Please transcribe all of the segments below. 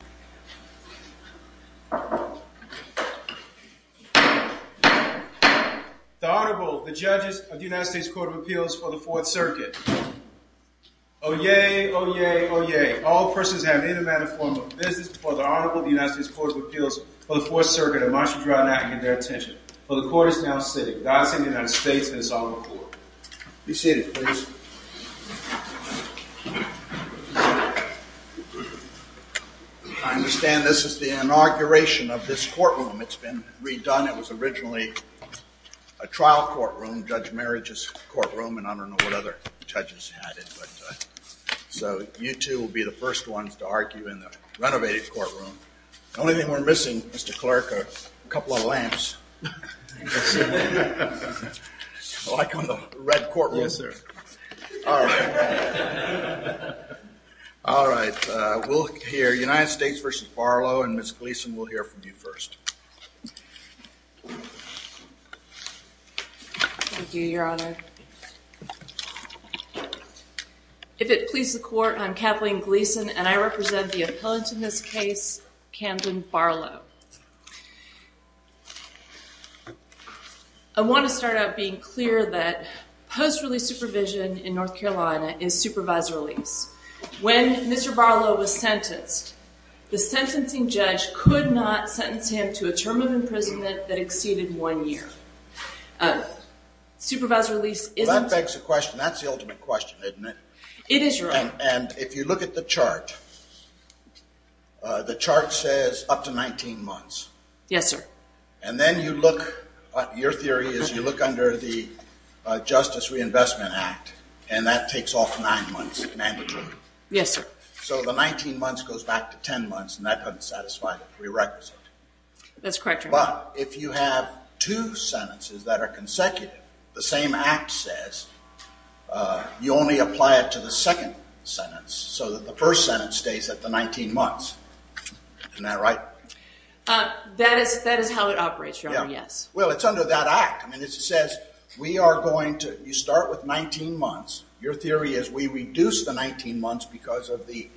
The Honorable, the Judges of the United States Court of Appeals for the Fourth Circuit. Oyez! Oyez! Oyez! All persons having any manner or form of business before the Honorable of the United States Court of Appeals for the Fourth Circuit are admonished to draw not even their attention, for the Court is now sitting. God save the United States and His Honorable Court. Be seated, please. I understand this is the inauguration of this courtroom. It's been redone. It was originally a trial courtroom, Judge Marich's courtroom, and I don't know what other judges had it. So you two will be the first ones to argue in the renovated courtroom. The only thing we're missing, Mr. Clerk, are a couple of lamps. Like on the red courtroom. Yes, sir. All right. We'll hear United States v. Barlow, and Ms. Gleason will hear from you first. Thank you, Your Honor. If it pleases the Court, I'm Kathleen Gleason, and I represent the appellant in this case, Camden Barlow. I want to start out being clear that post-release supervision in North Carolina is supervised release. When Mr. Barlow was sentenced, the sentencing judge could not sentence him to a term of imprisonment that exceeded one year. Supervised release isn't? Well, that begs the question. That's the ultimate question, isn't it? It is, Your Honor. And if you look at the chart, the chart says up to 19 months. Yes, sir. And then you look, your theory is you look under the Justice Reinvestment Act, and that takes off nine months, mandatory. Yes, sir. So the 19 months goes back to 10 months, and that doesn't satisfy the prerequisite. That's correct, Your Honor. But if you have two sentences that are consecutive, the same act says you only apply it to the second sentence so that the first sentence stays at the 19 months. Isn't that right? That is how it operates, Your Honor, yes. Well, it's under that act. I mean, it says we are going to, you start with 19 months. Your theory is we reduce the 19 months because of the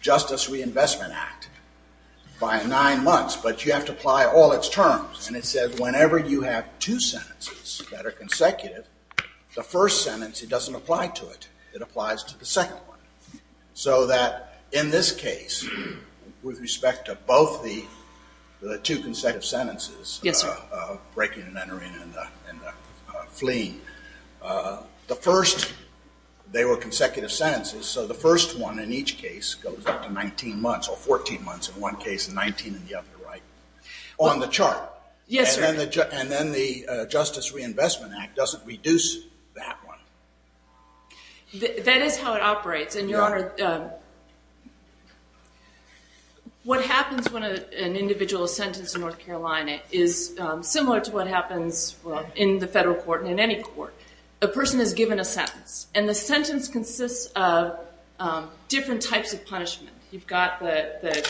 Justice Reinvestment Act by nine months, but you have to apply all its terms. And it says whenever you have two sentences that are consecutive, the first sentence, it doesn't apply to it. It applies to the second one. So that in this case, with respect to both the two consecutive sentences, breaking and entering and fleeing, the first, they were consecutive sentences, so the first one in each case goes up to 19 months or 14 months in one case and 19 in the other, right? On the chart. Yes, sir. And then the Justice Reinvestment Act doesn't reduce that one. That is how it operates. And, Your Honor, what happens when an individual is sentenced in North Carolina is similar to what happens in the federal court and in any court. A person is given a sentence, and the sentence consists of different types of punishment. You've got the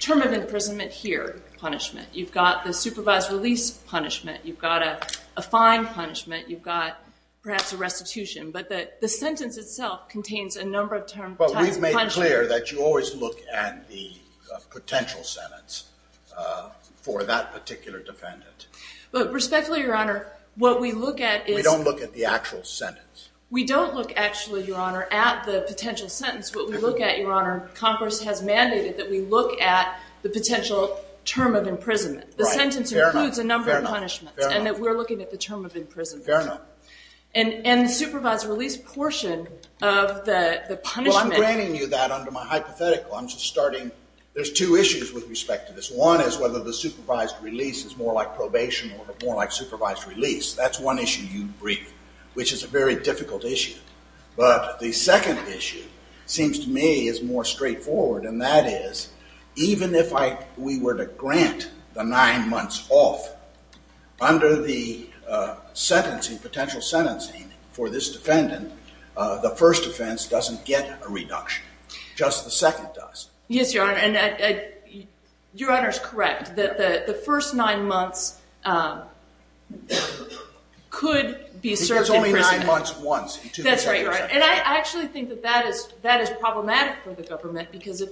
term of imprisonment here punishment. You've got the supervised release punishment. You've got a fine punishment. You've got perhaps a restitution. But the sentence itself contains a number of types of punishment. But we've made clear that you always look at the potential sentence for that particular defendant. But respectfully, Your Honor, what we look at is— We don't look at the actual sentence. We don't look actually, Your Honor, at the potential sentence. What we look at, Your Honor, Congress has mandated that we look at the potential term of imprisonment. Right. Fair enough. The sentence includes a number of punishments. Fair enough. And that we're looking at the term of imprisonment. Fair enough. And the supervised release portion of the punishment— Well, I'm granting you that under my hypothetical. I'm just starting—there's two issues with respect to this. One is whether the supervised release is more like probation or more like supervised release. That's one issue you briefed, which is a very difficult issue. But the second issue seems to me is more straightforward. And that is, even if we were to grant the nine months off, under the potential sentencing for this defendant, the first offense doesn't get a reduction. Just the second does. Yes, Your Honor, and Your Honor is correct. The first nine months could be served in prison. It's only nine months once. That's right, Your Honor. And I actually think that that is problematic for the government because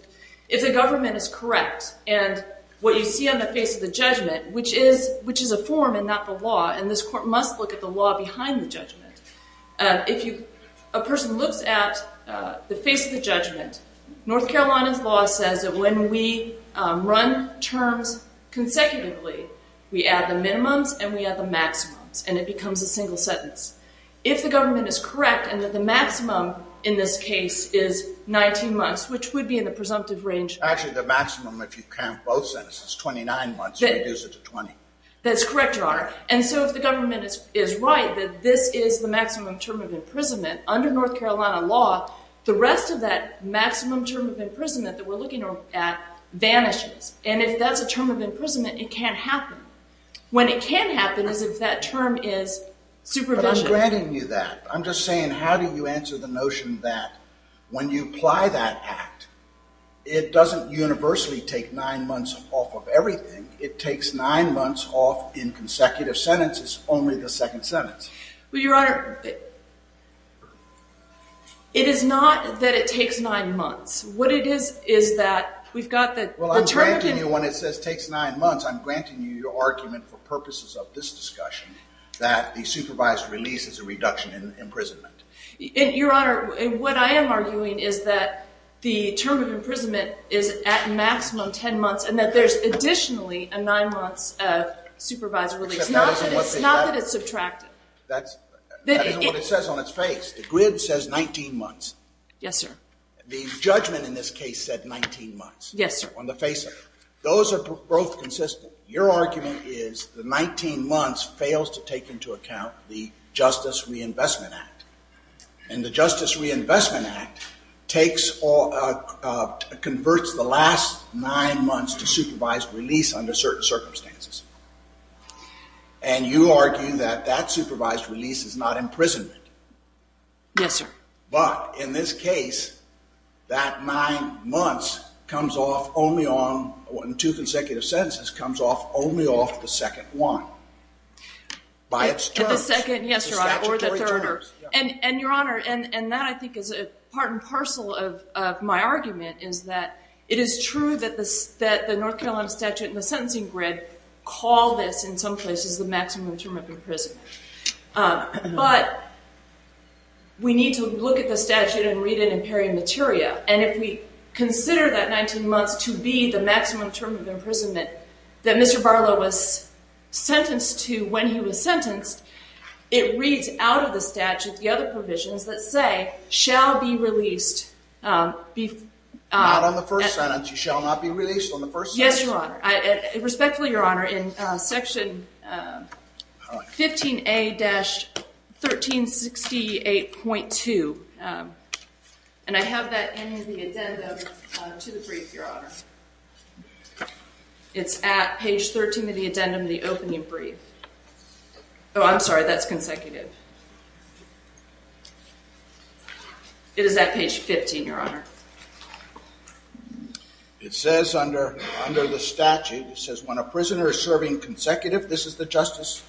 if the government is correct, and what you see on the face of the judgment, which is a form and not the law, and this court must look at the law behind the judgment. If a person looks at the face of the judgment, North Carolina's law says that when we run terms consecutively, we add the minimums and we add the maximums, and it becomes a single sentence. If the government is correct and that the maximum in this case is 19 months, which would be in the presumptive range— Actually, the maximum if you count both sentences, 29 months, reduces it to 20. That's correct, Your Honor. And so if the government is right that this is the maximum term of imprisonment, under North Carolina law, the rest of that maximum term of imprisonment that we're looking at vanishes. And if that's a term of imprisonment, it can't happen. When it can happen is if that term is superficial. But I'm granting you that. I'm just saying how do you answer the notion that when you apply that act, it doesn't universally take nine months off of everything. It takes nine months off in consecutive sentences, only the second sentence. Well, Your Honor, it is not that it takes nine months. What it is is that we've got the term of— Well, I'm granting you when it says takes nine months, I'm granting you your argument for purposes of this discussion that the supervised release is a reduction in imprisonment. Your Honor, what I am arguing is that the term of imprisonment is at maximum 10 months and that there's additionally a nine months of supervised release, not that it's subtracted. That isn't what it says on its face. The grid says 19 months. Yes, sir. The judgment in this case said 19 months. Yes, sir. On the face of it. Those are both consistent. Your argument is the 19 months fails to take into account the Justice Reinvestment Act. And the Justice Reinvestment Act converts the last nine months to supervised release under certain circumstances. And you argue that that supervised release is not imprisonment. Yes, sir. But in this case, that nine months comes off only on—in two consecutive sentences comes off only off the second one. By its terms. By the second, yes, Your Honor, or the third. And, Your Honor, and that I think is part and parcel of my argument is that it is true that the North Carolina statute and the sentencing grid call this in some places the maximum term of imprisonment. But we need to look at the statute and read it in peri materia. And if we consider that 19 months to be the maximum term of imprisonment that Mr. Barlow was sentenced to when he was sentenced, it reads out of the statute the other provisions that say shall be released— Not on the first sentence. You shall not be released on the first sentence. Yes, Your Honor. Respectfully, Your Honor, in section 15A-1368.2, and I have that in the addendum to the brief, Your Honor. It's at page 13 of the addendum to the opening brief. Oh, I'm sorry, that's consecutive. It is at page 15, Your Honor. It says under the statute, it says when a prisoner is serving consecutive—this is the Justice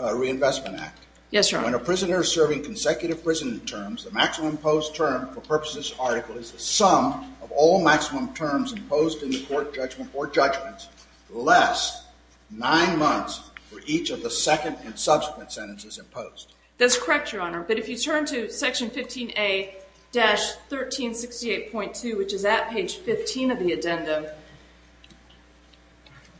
Reinvestment Act. Yes, Your Honor. When a prisoner is serving consecutive prison terms, the maximum imposed term, for purposes of this article, is the sum of all maximum terms imposed in the court judgment or judgments less 9 months for each of the second and subsequent sentences imposed. That's correct, Your Honor. But if you turn to section 15A-1368.2, which is at page 15 of the addendum,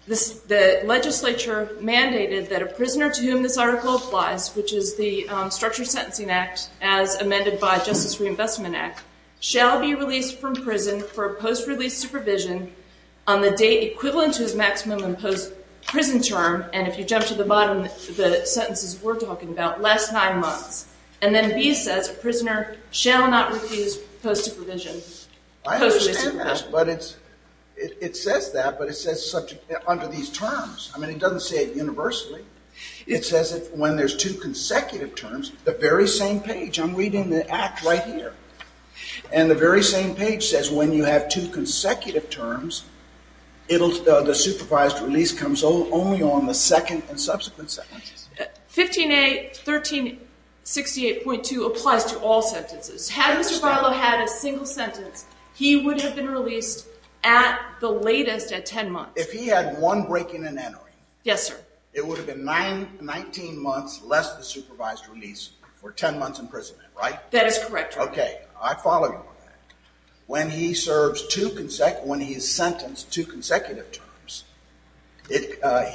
the legislature mandated that a prisoner to whom this article applies, which is the Structured Sentencing Act as amended by Justice Reinvestment Act, shall be released from prison for post-release supervision on the date equivalent to his maximum imposed prison term, and if you jump to the bottom, the sentences we're talking about, less 9 months. And then B says a prisoner shall not refuse post-release supervision. I understand that, but it says that, but it says under these terms. I mean, it doesn't say it universally. It says when there's two consecutive terms, the very same page. I'm reading the act right here. And the very same page says when you have two consecutive terms, the supervised release comes only on the second and subsequent sentences. 15A-1368.2 applies to all sentences. Had Mr. Bilo had a single sentence, he would have been released at the latest at 10 months. If he had one breaking and entering. Yes, sir. It would have been 19 months less the supervised release for 10 months in prison, right? That is correct, Your Honor. Okay. I follow you on that. When he is sentenced to consecutive terms,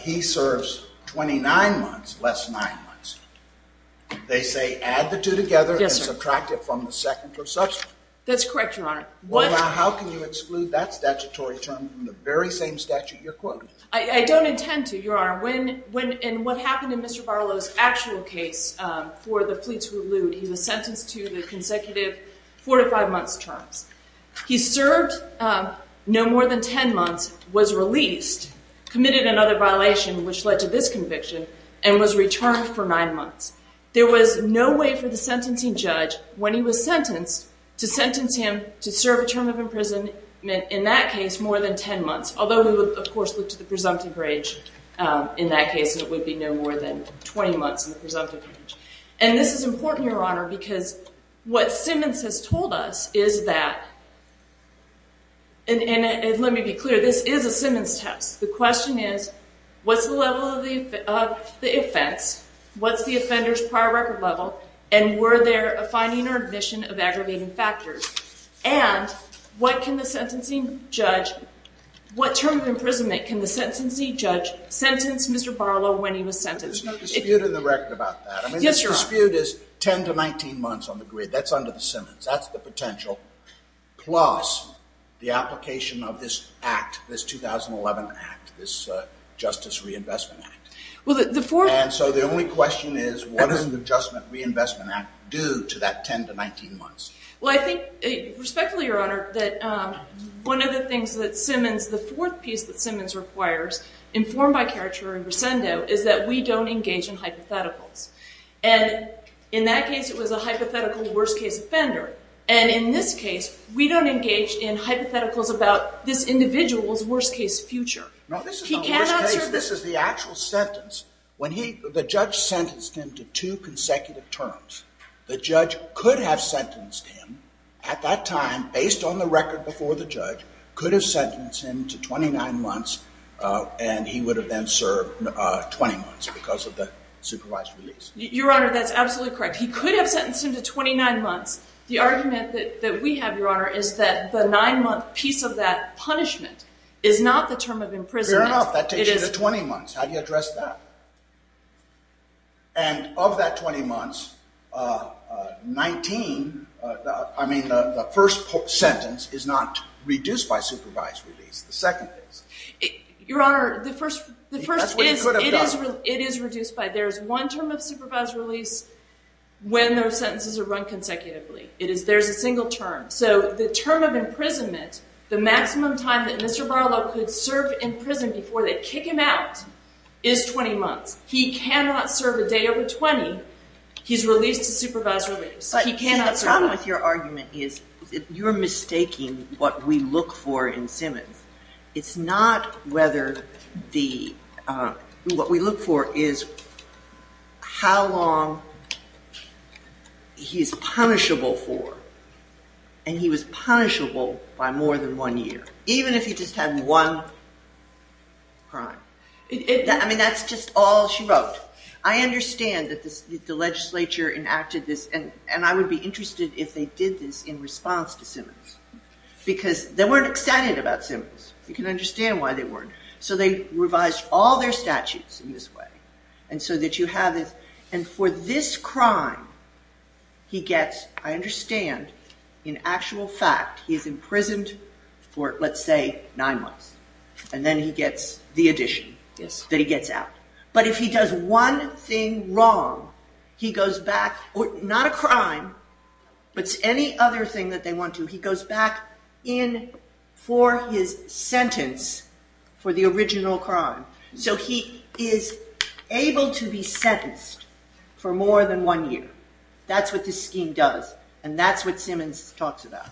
he serves 29 months, less 9 months. They say add the two together and subtract it from the second or subsequent. That's correct, Your Honor. Well, now how can you exclude that statutory term from the very same statute you're quoting? I don't intend to, Your Honor. And what happened in Mr. Bilo's actual case for the fleets who elude, he was sentenced to the consecutive 4 to 5 months terms. He served no more than 10 months, was released, committed another violation, which led to this conviction, and was returned for 9 months. There was no way for the sentencing judge, when he was sentenced, to sentence him to serve a term of imprisonment, in that case, more than 10 months. Although we would, of course, look to the presumptive range in that case, and it would be no more than 20 months in the presumptive range. And this is important, Your Honor, because what Simmons has told us is that, and let me be clear, this is a Simmons test. The question is, what's the level of the offense? What's the offender's prior record level? And were there a finding or admission of aggravating factors? And what can the sentencing judge, what term of imprisonment can the sentencing judge sentence Mr. Bilo when he was sentenced? There's no dispute in the record about that. I mean, this dispute is 10 to 19 months on the grid. That's under the Simmons. That's the potential, plus the application of this act, this 2011 act, this Justice Reinvestment Act. And so the only question is, what does the Adjustment Reinvestment Act do to that 10 to 19 months? Well, I think, respectfully, Your Honor, that one of the things that Simmons, the fourth piece that Simmons requires, informed by caricature and recendo, is that we don't engage in hypotheticals. And in that case, it was a hypothetical worst-case offender. And in this case, we don't engage in hypotheticals about this individual's worst-case future. No, this is not a worst-case. This is the actual sentence. The judge sentenced him to two consecutive terms. The judge could have sentenced him at that time, based on the record before the judge, could have sentenced him to 29 months, and he would have then served 20 months because of the supervised release. Your Honor, that's absolutely correct. He could have sentenced him to 29 months. The argument that we have, Your Honor, is that the nine-month piece of that punishment is not the term of imprisonment. Fair enough. That takes you to 20 months. How do you address that? And of that 20 months, 19, I mean, the first sentence is not reduced by supervised release. It's the second piece. Your Honor, the first is, it is reduced by, there's one term of supervised release when those sentences are run consecutively. There's a single term. So the term of imprisonment, the maximum time that Mr. Barlow could serve in prison before they kick him out, is 20 months. He cannot serve a day over 20. He's released to supervised release. The problem with your argument is you're mistaking what we look for in Simmons. It's not whether the, what we look for is how long he's punishable for, and he was punishable by more than one year, even if he just had one crime. I mean, that's just all she wrote. I understand that the legislature enacted this, and I would be interested if they did this in response to Simmons, because they weren't excited about Simmons. You can understand why they weren't. So they revised all their statutes in this way, and so that you have this. And for this crime, he gets, I understand, in actual fact, he's imprisoned for, let's say, nine months, and then he gets the addition that he gets out. But if he does one thing wrong, he goes back, not a crime, but any other thing that they want to, he goes back in for his sentence for the original crime. So he is able to be sentenced for more than one year. That's what this scheme does, and that's what Simmons talks about.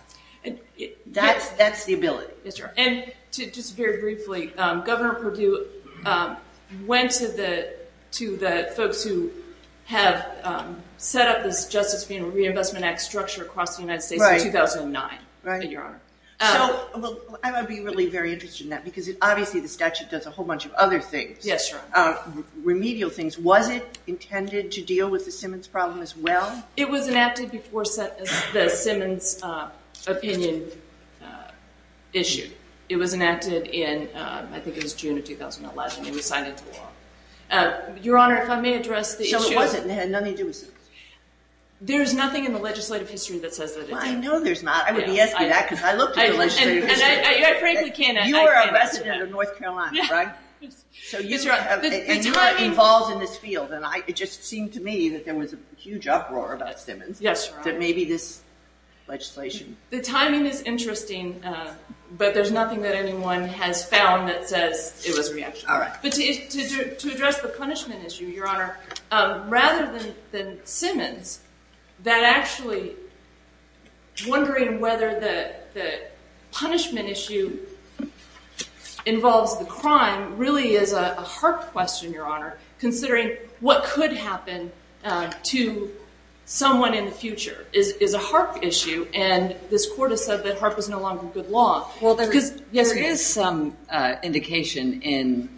That's the ability. And just very briefly, Governor Perdue went to the folks who have set up this Justice Reinvestment Act structure across the United States in 2009. I would be really very interested in that, because obviously the statute does a whole bunch of other things, remedial things. Was it intended to deal with the Simmons problem as well? It was enacted before the Simmons opinion issue. It was enacted in, I think it was June of 2011, and it was signed into law. Your Honor, if I may address the issue. So it wasn't, it had nothing to do with Simmons? There's nothing in the legislative history that says that it did. I know there's not. I would be asking that, because I looked at the legislative history. And I frankly can't answer that. You were a resident of North Carolina, right? So you are involved in this field, and it just seemed to me that there was a huge uproar about Simmons. Yes, Your Honor. That maybe this legislation. The timing is interesting, but there's nothing that anyone has found that says it was reactionary. All right. But to address the punishment issue, Your Honor, rather than Simmons, really is a hard question, Your Honor, considering what could happen to someone in the future is a HARP issue. And this Court has said that HARP is no longer good law. Well, there is some indication in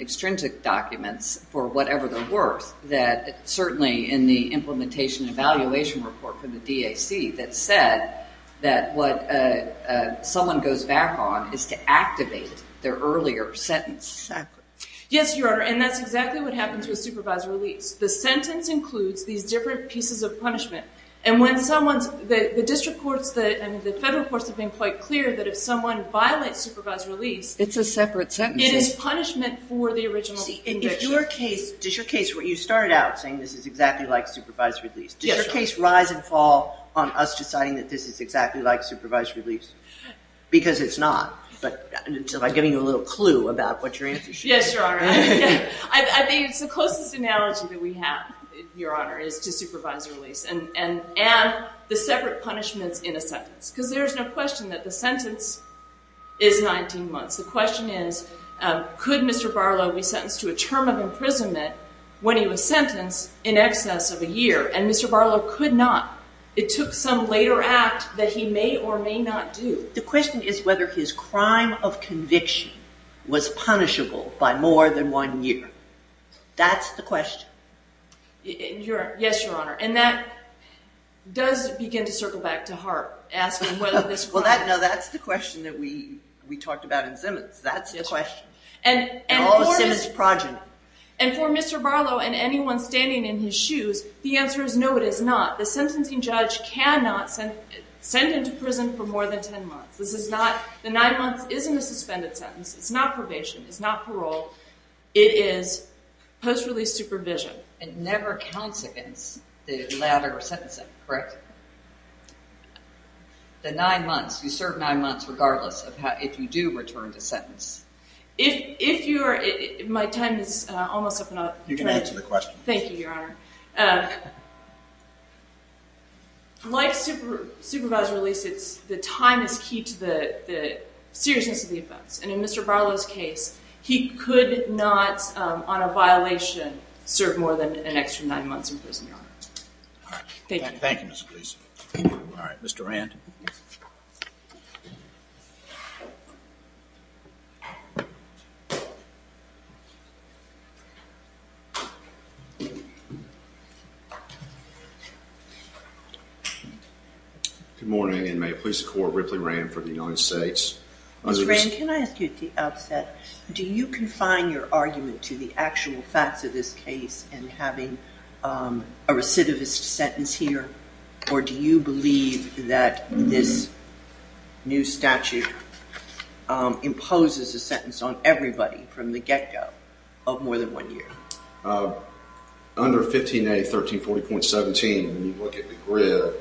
extrinsic documents, for whatever they're worth, that certainly in the implementation evaluation report from the DAC, that said that what someone goes back on is to activate their earlier sentence. Exactly. Yes, Your Honor. And that's exactly what happens with supervised release. The sentence includes these different pieces of punishment. And when someone's, the district courts, the federal courts have been quite clear that if someone violates supervised release, It's a separate sentence. It is punishment for the original conviction. See, in your case, does your case where you started out saying this is exactly like supervised release, does your case rise and fall on us deciding that this is exactly like supervised release? Because it's not. But just by giving you a little clue about what your answer should be. Yes, Your Honor. I think it's the closest analogy that we have, Your Honor, is to supervised release and the separate punishments in a sentence. Because there's no question that the sentence is 19 months. The question is, could Mr. Barlow be sentenced to a term of imprisonment when he was sentenced in excess of a year? And Mr. Barlow could not. It took some later act that he may or may not do. The question is whether his crime of conviction was punishable by more than one year. That's the question. Yes, Your Honor. And that does begin to circle back to Hart. Well, that's the question that we talked about in Simmons. That's the question. And for Mr. Barlow and anyone standing in his shoes, the answer is no, it is not. The sentencing judge cannot send him to prison for more than 10 months. The nine months isn't a suspended sentence. It's not probation. It's not parole. It is post-release supervision. It never counts against the latter sentencing, correct? The nine months, you serve nine months regardless if you do return to sentence. If you're – my time is almost up. You can answer the question. Thank you, Your Honor. Like supervised release, the time is key to the seriousness of the offense. And in Mr. Barlow's case, he could not on a violation serve more than an extra nine months in prison, Your Honor. All right. Thank you. Thank you, Ms. Gleason. All right, Mr. Rand. Good morning, and may it please the Court, Ripley Rand for the United States. Ms. Rand, can I ask you at the outset, do you confine your argument to the actual facts of this case and having a recidivist sentence here? Or do you believe that this new statute imposes a sentence on everybody from the get-go of more than one year? Under 15A, 1340.17, when you look at the grid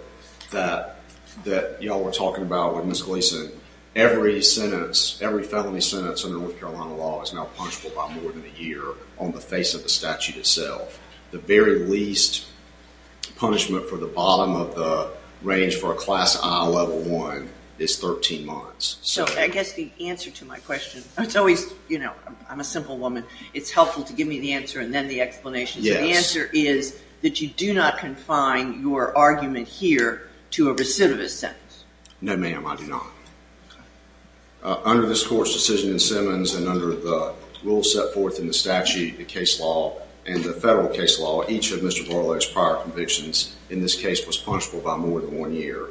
that y'all were talking about with Ms. Gleason, every sentence, every felony sentence under North Carolina law is now punishable by more than a year on the face of the statute itself. The very least punishment for the bottom of the range for a class I level one is 13 months. So I guess the answer to my question, it's always, you know, I'm a simple woman. It's helpful to give me the answer and then the explanation. Yes. So the answer is that you do not confine your argument here to a recidivist sentence. No, ma'am, I do not. Under this Court's decision in Simmons and under the rules set forth in the statute, the case law, and the federal case law, each of Mr. Barlow's prior convictions in this case was punishable by more than one year.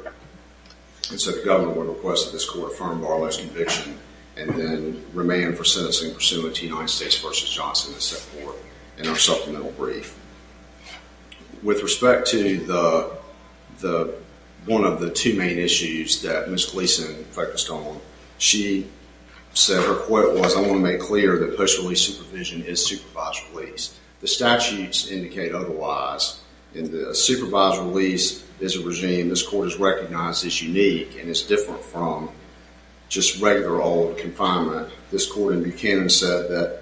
And so the government would request that this Court affirm Barlow's conviction and then remand for sentencing pursuant to United States v. Johnson, et cetera, in our supplemental brief. With respect to one of the two main issues that Ms. Gleason focused on, she said her quote was, I want to make clear that post-release supervision is supervised release. The statutes indicate otherwise. Supervised release is a regime this Court has recognized as unique and is different from just regular old confinement. This Court in Buchanan said that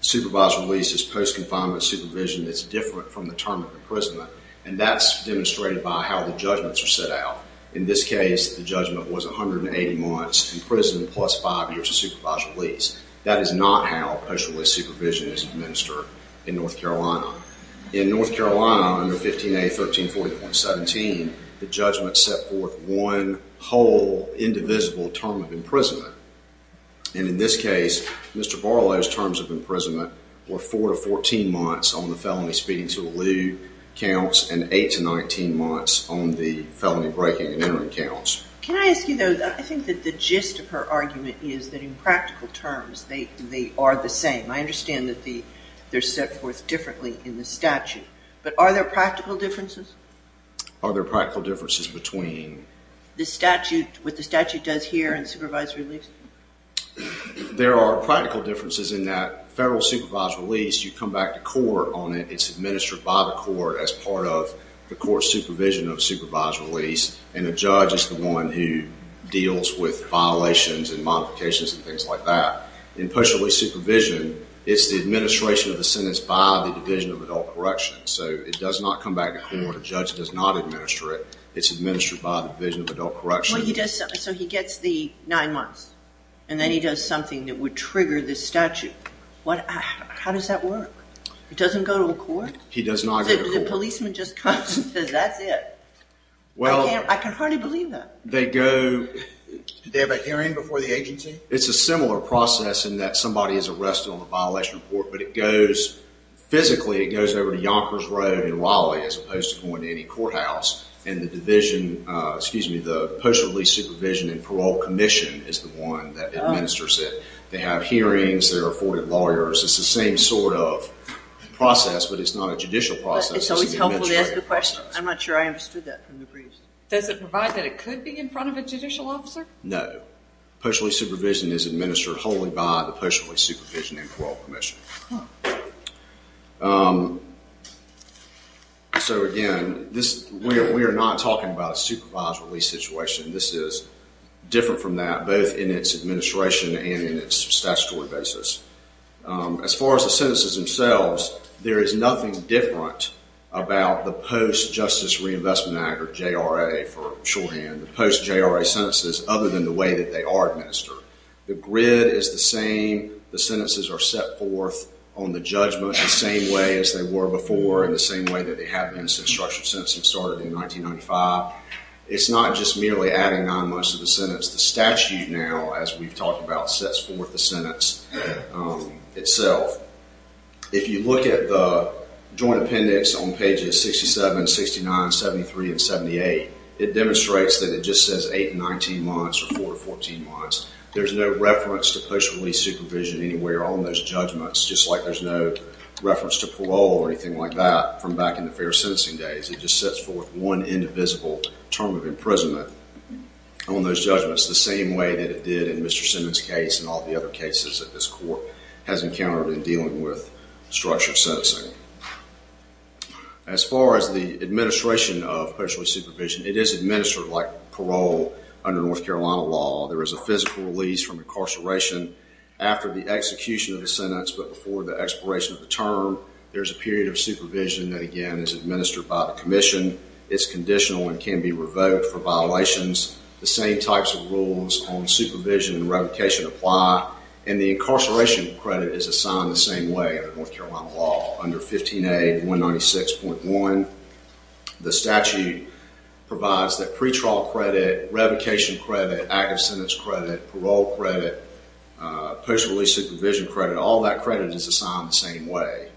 supervised release is post-confinement supervision that's different from the term of imprisonment, and that's demonstrated by how the judgments are set out. In this case, the judgment was 180 months in prison plus five years of supervised release. That is not how post-release supervision is administered in North Carolina. In North Carolina, under 15A.1340.17, the judgment set forth one whole indivisible term of imprisonment. And in this case, Mr. Barlow's terms of imprisonment were four to 14 months on the felony speeding to the loo counts and eight to 19 months on the felony breaking and entering counts. Can I ask you, though, I think that the gist of her argument is that in practical terms they are the same. I understand that they're set forth differently in the statute, but are there practical differences? Are there practical differences between... The statute, what the statute does here and supervised release? There are practical differences in that federal supervised release, you come back to court on it, it's administered by the court as part of the court's supervision of supervised release, and the judge is the one who deals with violations and modifications and things like that. In post-release supervision, it's the administration of the sentence by the Division of Adult Correction. So it does not come back to court. The judge does not administer it. It's administered by the Division of Adult Correction. So he gets the nine months, and then he does something that would trigger this statute. How does that work? It doesn't go to a court? He does not go to court. The policeman just comes and says, that's it. I can hardly believe that. They go... Do they have a hearing before the agency? It's a similar process in that somebody is arrested on a violation report, but physically it goes over to Yonkers Road in Raleigh as opposed to going to any courthouse, and the post-release supervision and parole commission is the one that administers it. They have hearings, they're afforded lawyers. It's the same sort of process, but it's not a judicial process. It's always helpful to ask a question. I'm not sure I understood that from the briefs. Does it provide that it could be in front of a judicial officer? No. Post-release supervision is administered wholly by the post-release supervision and parole commission. So, again, we are not talking about a supervised release situation. This is different from that, both in its administration and in its statutory basis. As far as the sentences themselves, there is nothing different about the Post-Justice Reinvestment Act, or JRA for shorthand, the post-JRA sentences, other than the way that they are administered. The grid is the same. The sentences are set forth on the judgment the same way as they were before and the same way that they have been since structured sentencing started in 1995. It's not just merely adding on most of the sentence. The statute now, as we've talked about, sets forth the sentence itself. If you look at the joint appendix on pages 67, 69, 73, and 78, it demonstrates that it just says 8 to 19 months or 4 to 14 months. There's no reference to post-release supervision anywhere on those judgments, just like there's no reference to parole or anything like that from back in the fair sentencing days. It just sets forth one indivisible term of imprisonment on those judgments, the same way that it did in Mr. Simmons' case and all the other cases that this court has encountered in dealing with structured sentencing. As far as the administration of post-release supervision, it is administered like parole under North Carolina law. There is a physical release from incarceration after the execution of the sentence but before the expiration of the term. There's a period of supervision that, again, is administered by the commission. It's conditional and can be revoked for violations. The same types of rules on supervision and revocation apply, and the incarceration credit is assigned the same way under North Carolina law, under 15A 196.1. The statute provides the pretrial credit, revocation credit, active sentence credit, parole credit, post-release supervision credit. All that credit is assigned the same way,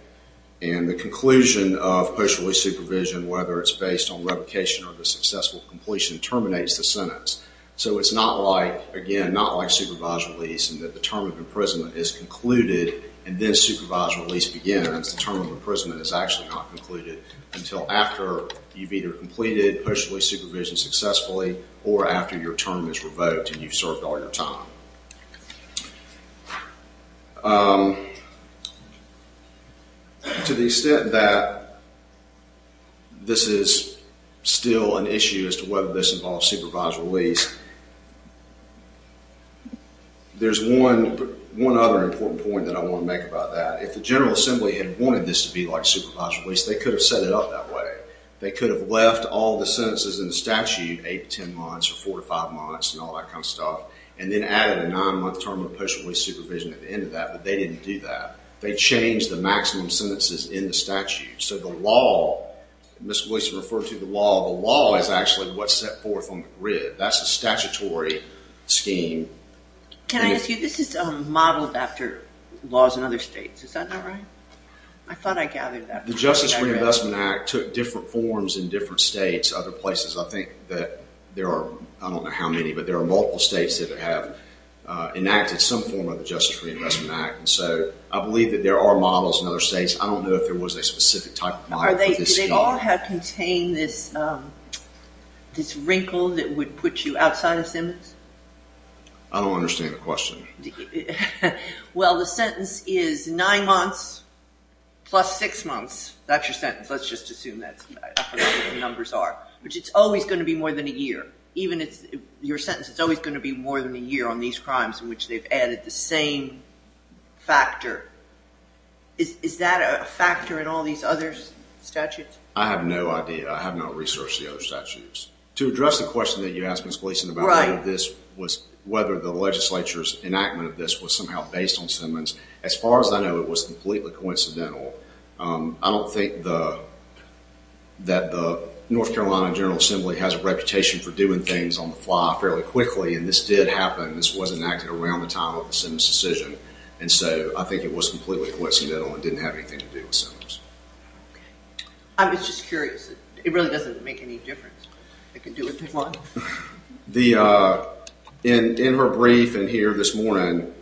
and the conclusion of post-release supervision, whether it's based on revocation or the successful completion, terminates the sentence. So it's not like, again, not like supervised release in that the term of imprisonment is concluded and then supervised release begins. The term of imprisonment is actually not concluded until after you've either completed post-release supervision successfully or after your term is revoked and you've served all your time. To the extent that this is still an issue as to whether this involves supervised release, there's one other important point that I want to make about that. If the General Assembly had wanted this to be like supervised release, they could have set it up that way. They could have left all the sentences in the statute, eight to ten months or four to five months and all that kind of stuff, and then added a nine-month term of post-release supervision at the end of that, but they didn't do that. They changed the maximum sentences in the statute. So the law, as Ms. Gleason referred to, the law is actually what's set forth on the grid. That's a statutory scheme. Can I ask you, this is modeled after laws in other states. Is that not right? I thought I gathered that. The Justice Reinvestment Act took different forms in different states, other places. I think that there are, I don't know how many, but there are multiple states that have enacted some form of the Justice Reinvestment Act. And so I believe that there are models in other states. I don't know if there was a specific type of model. Did they all contain this wrinkle that would put you outside of sentence? I don't understand the question. Well, the sentence is nine months plus six months. That's your sentence. Let's just assume that's what the numbers are, which it's always going to be more than a year. Even your sentence, it's always going to be more than a year on these crimes in which they've added the same factor. Is that a factor in all these other statutes? I have no idea. I have not researched the other statutes. To address the question that you asked, Ms. Gleason, about whether the legislature's enactment of this was somehow based on Simmons, as far as I know, it was completely coincidental. I don't think that the North Carolina General Assembly has a reputation for doing things on the fly fairly quickly, and this did happen. This was enacted around the time of the Simmons decision. I think it was completely coincidental and didn't have anything to do with Simmons. I was just curious. It really doesn't make any difference. It can do what they want. In her brief in here this morning,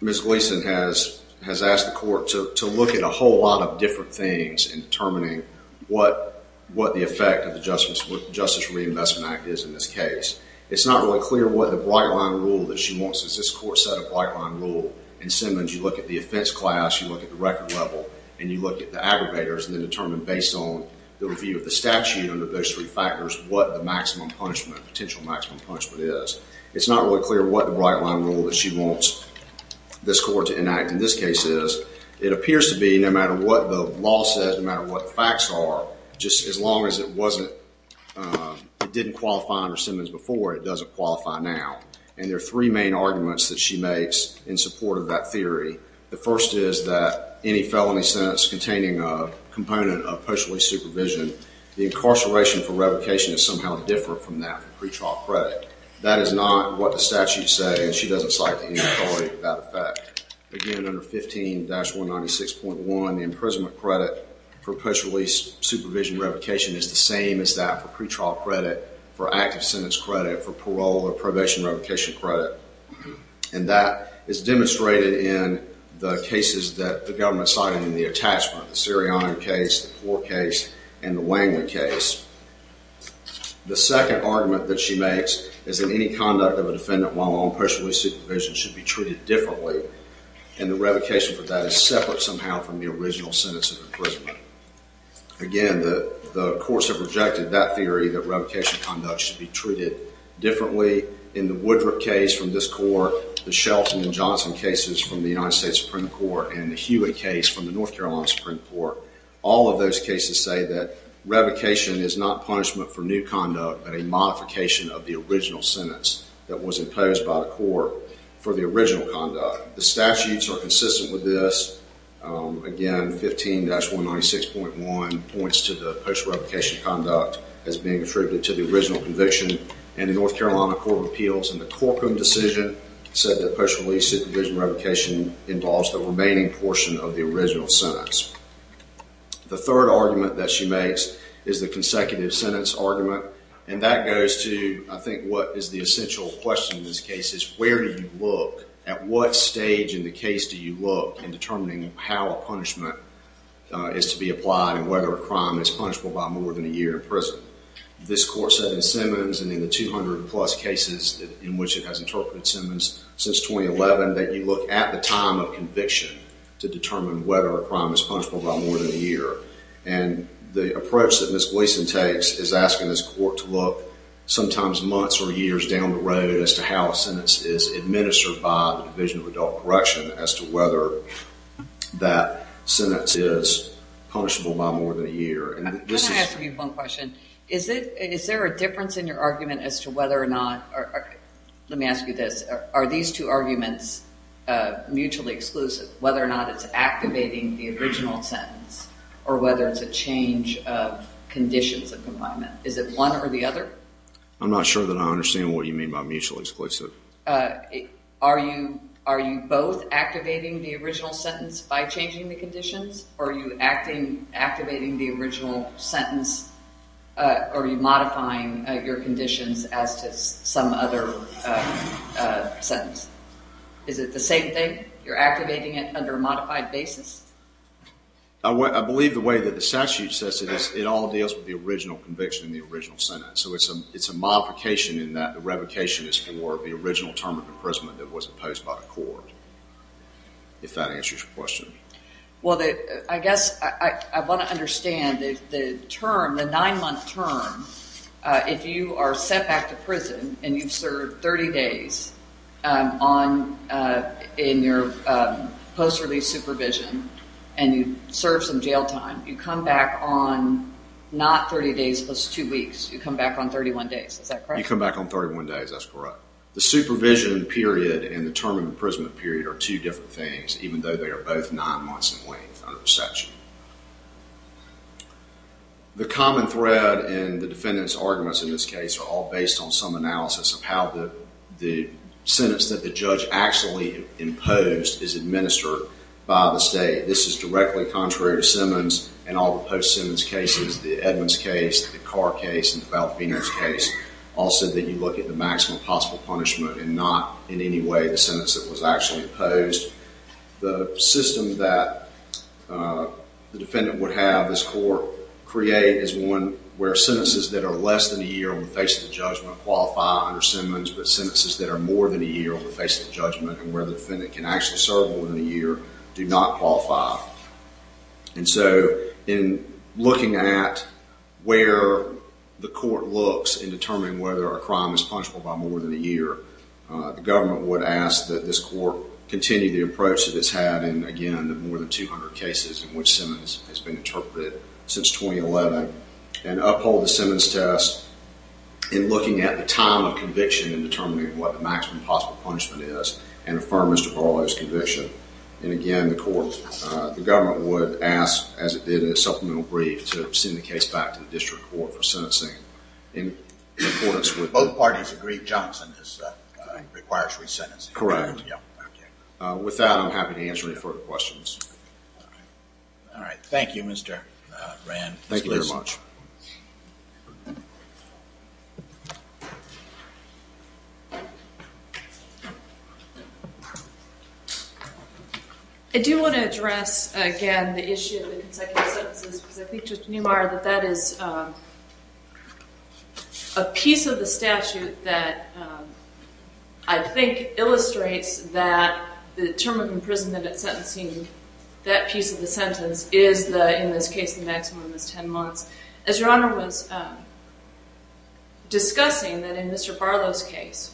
Ms. Gleason has asked the court to look at a whole lot of different things in determining what the effect of the Justice for Reinvestment Act is in this case. It's not really clear what the bright-line rule that she wants. This court set a bright-line rule. In Simmons, you look at the offense class, you look at the record level, and you look at the aggravators and then determine, based on the review of the statute under those three factors, what the potential maximum punishment is. It's not really clear what the bright-line rule that she wants this court to enact in this case is. It appears to be, no matter what the law says, no matter what the facts are, just as long as it didn't qualify under Simmons before, it doesn't qualify now. There are three main arguments that she makes in support of that theory. The first is that any felony sentence containing a component of post-release supervision, the incarceration for revocation is somehow different from that for pretrial credit. That is not what the statute says. She doesn't cite any authority to that effect. Again, under 15-196.1, the imprisonment credit for post-release supervision revocation is the same as that for pretrial credit, for active sentence credit, for parole or probation revocation credit. And that is demonstrated in the cases that the government cited in the attachment, the Siri Iron case, the Poor case, and the Langley case. The second argument that she makes is that any conduct of a defendant while on post-release supervision should be treated differently, and the revocation for that is separate somehow from the original sentence of imprisonment. Again, the courts have rejected that theory that revocation conduct should be treated differently. In the Woodruff case from this court, the Shelton and Johnson cases from the United States Supreme Court, and the Hewitt case from the North Carolina Supreme Court, all of those cases say that revocation is not punishment for new conduct, but a modification of the original sentence that was imposed by the court for the original conduct. The statutes are consistent with this. Again, 15-196.1 points to the post-revocation conduct as being attributed to the original conviction in the North Carolina Court of Appeals, and the Corcoran decision said that post-release supervision revocation involves the remaining portion of the original sentence. The third argument that she makes is the consecutive sentence argument, and that goes to, I think, what is the essential question in this case, is where do you look, at what stage in the case do you look in determining how a punishment is to be applied, and whether a crime is punishable by more than a year in prison. This court said in Simmons, and in the 200-plus cases in which it has interpreted Simmons since 2011, that you look at the time of conviction to determine whether a crime is punishable by more than a year. And the approach that Ms. Gleason takes is asking this court to look sometimes months or years down the road as to how a sentence is administered by the Division of Adult Correction as to whether that sentence is punishable by more than a year. Can I ask you one question? Is there a difference in your argument as to whether or not, let me ask you this, are these two arguments mutually exclusive, whether or not it's activating the original sentence, or whether it's a change of conditions of confinement? Is it one or the other? I'm not sure that I understand what you mean by mutually exclusive. Are you both activating the original sentence by changing the conditions, or are you activating the original sentence, or are you modifying your conditions as to some other sentence? Is it the same thing? You're activating it under a modified basis? I believe the way that the statute says it is, it all deals with the original conviction in the original sentence. So it's a modification in that the revocation is for the original term of imprisonment that was imposed by the court, if that answers your question. I guess I want to understand the nine-month term. If you are sent back to prison and you've served 30 days in your post-release supervision and you've served some jail time, you come back on not 30 days plus two weeks. You come back on 31 days. Is that correct? You come back on 31 days. That's correct. The supervision period and the term of imprisonment period are two different things, even though they are both nine months in length under the section. The common thread and the defendant's arguments in this case are all based on some analysis of how the sentence that the judge actually imposed is administered by the state. This is directly contrary to Simmons and all the post-Simmons cases, the Edmonds case, the Carr case, and the Balthenius case, all said that you look at the maximum possible punishment and not in any way the sentence that was actually imposed. The system that the defendant would have this court create is one where sentences that are less than a year on the face of the judgment qualify under Simmons, but sentences that are more than a year on the face of the judgment and where the defendant can actually serve more than a year do not qualify. In looking at where the court looks in determining whether a crime is punishable by more than a year, the government would ask that this court continue the approach that it's had in, again, more than 200 cases in which Simmons has been interpreted since 2011 and uphold the Simmons test in looking at the time of conviction in determining what the maximum possible punishment is and affirm Mr. Barlow's conviction. Again, the government would ask, as it did in its supplemental brief, to send the case back to the district court for sentencing in accordance with Both parties agree Johnson requires resentencing. Correct. With that, I'm happy to answer any further questions. All right. Thank you, Mr. Rand. Thank you very much. I do want to address, again, the issue of consecutive sentences because I think, Judge Neumeyer, that that is a piece of the statute that, I think, illustrates that the term of imprisonment at sentencing, that piece of the sentence is, in this case, the maximum is 10 months. As Your Honor was discussing, that in Mr. Barlow's case,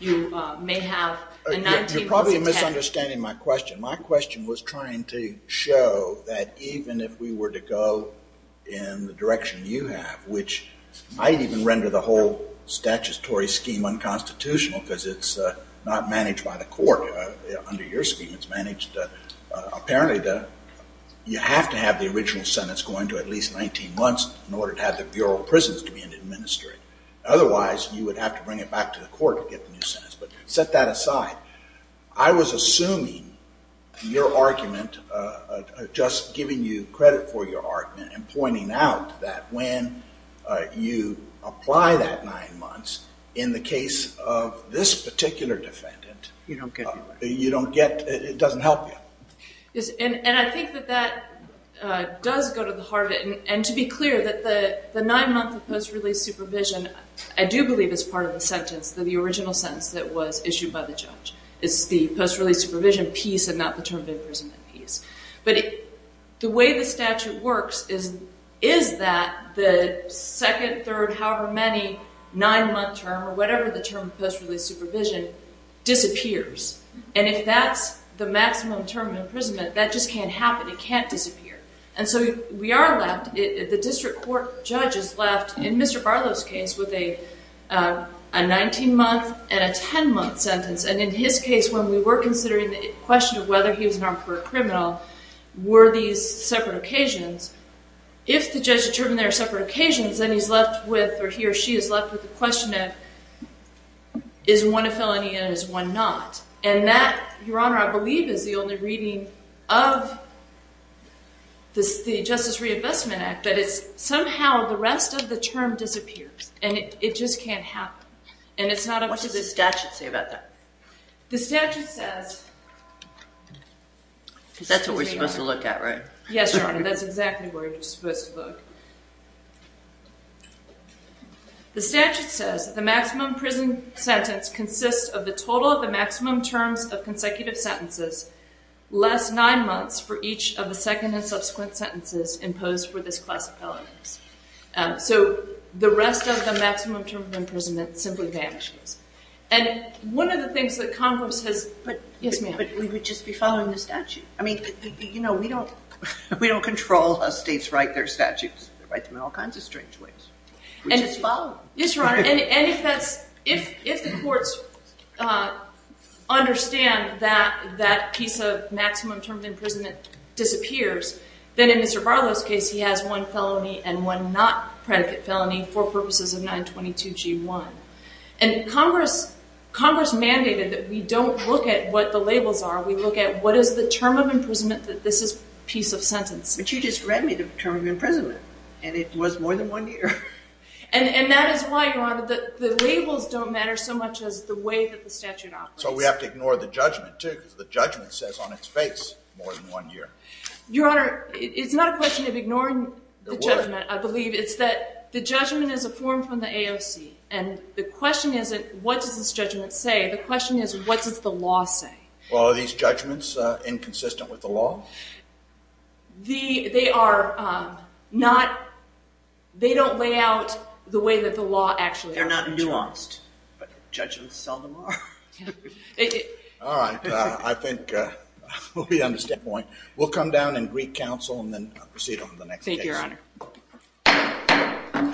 you may have a 19-month sentence. You're probably misunderstanding my question. My question was trying to show that even if we were to go in the direction you have, which I'd even render the whole statutory scheme unconstitutional because it's not managed by the court under your scheme. It's managed apparently. You have to have the original sentence going to at least 19 months in order to have the Bureau of Prisons to be able to administer it. Otherwise, you would have to bring it back to the court to get the new sentence. But set that aside. I was assuming your argument, just giving you credit for your argument and pointing out that when you apply that 9 months, in the case of this particular defendant, you don't get it. It doesn't help you. And I think that that does go to the heart of it. And to be clear, that the 9-month post-release supervision, I do believe it's part of the sentence, the original sentence that was issued by the judge. It's the post-release supervision piece and not the term of imprisonment piece. But the way the statute works is that the second, third, however many, 9-month term or whatever the term of post-release supervision disappears. And if that's the maximum term of imprisonment, that just can't happen. It can't disappear. And so we are left, the district court judge is left, in Mr. Barlow's case, with a 19-month and a 10-month sentence. And in his case, when we were considering the question of whether he was an armed pervert criminal, were these separate occasions, if the judge determined they were separate occasions, then he's left with or he or she is left with the question of is one a felony and is one not. And that, Your Honor, I believe is the only reading of the Justice Reinvestment Act. But it's somehow the rest of the term disappears. And it just can't happen. What does the statute say about that? The statute says... Because that's what we're supposed to look at, right? Yes, Your Honor, that's exactly where you're supposed to look. The statute says the maximum prison sentence consists of the total of the maximum terms of consecutive sentences less 9 months for each of the second and subsequent sentences imposed for this class of felonies. So the rest of the maximum term of imprisonment simply vanishes. And one of the things that Congress has... Yes, ma'am. But we would just be following the statute. I mean, you know, we don't control how states write their statutes. They write them in all kinds of strange ways. We just follow them. Yes, Your Honor. And if the courts understand that that piece of maximum term of imprisonment disappears, then in Mr. Barlow's case he has one felony and one not predicate felony for purposes of 922G1. And Congress mandated that we don't look at what the labels are. We look at what is the term of imprisonment that this is a piece of sentence. But you just read me the term of imprisonment, and it was more than one year. And that is why, Your Honor, the labels don't matter so much as the way that the statute operates. So we have to ignore the judgment, too, because the judgment says on its face more than one year. Your Honor, it's not a question of ignoring the judgment, I believe. It's that the judgment is a form from the AOC. And the question isn't what does this judgment say. The question is what does the law say. Well, are these judgments inconsistent with the law? They are not. They don't lay out the way that the law actually operates. They're not nuanced, but judgments seldom are. All right. I think we understand the point. We'll come down and greet counsel and then proceed on to the next case. Thank you, Your Honor.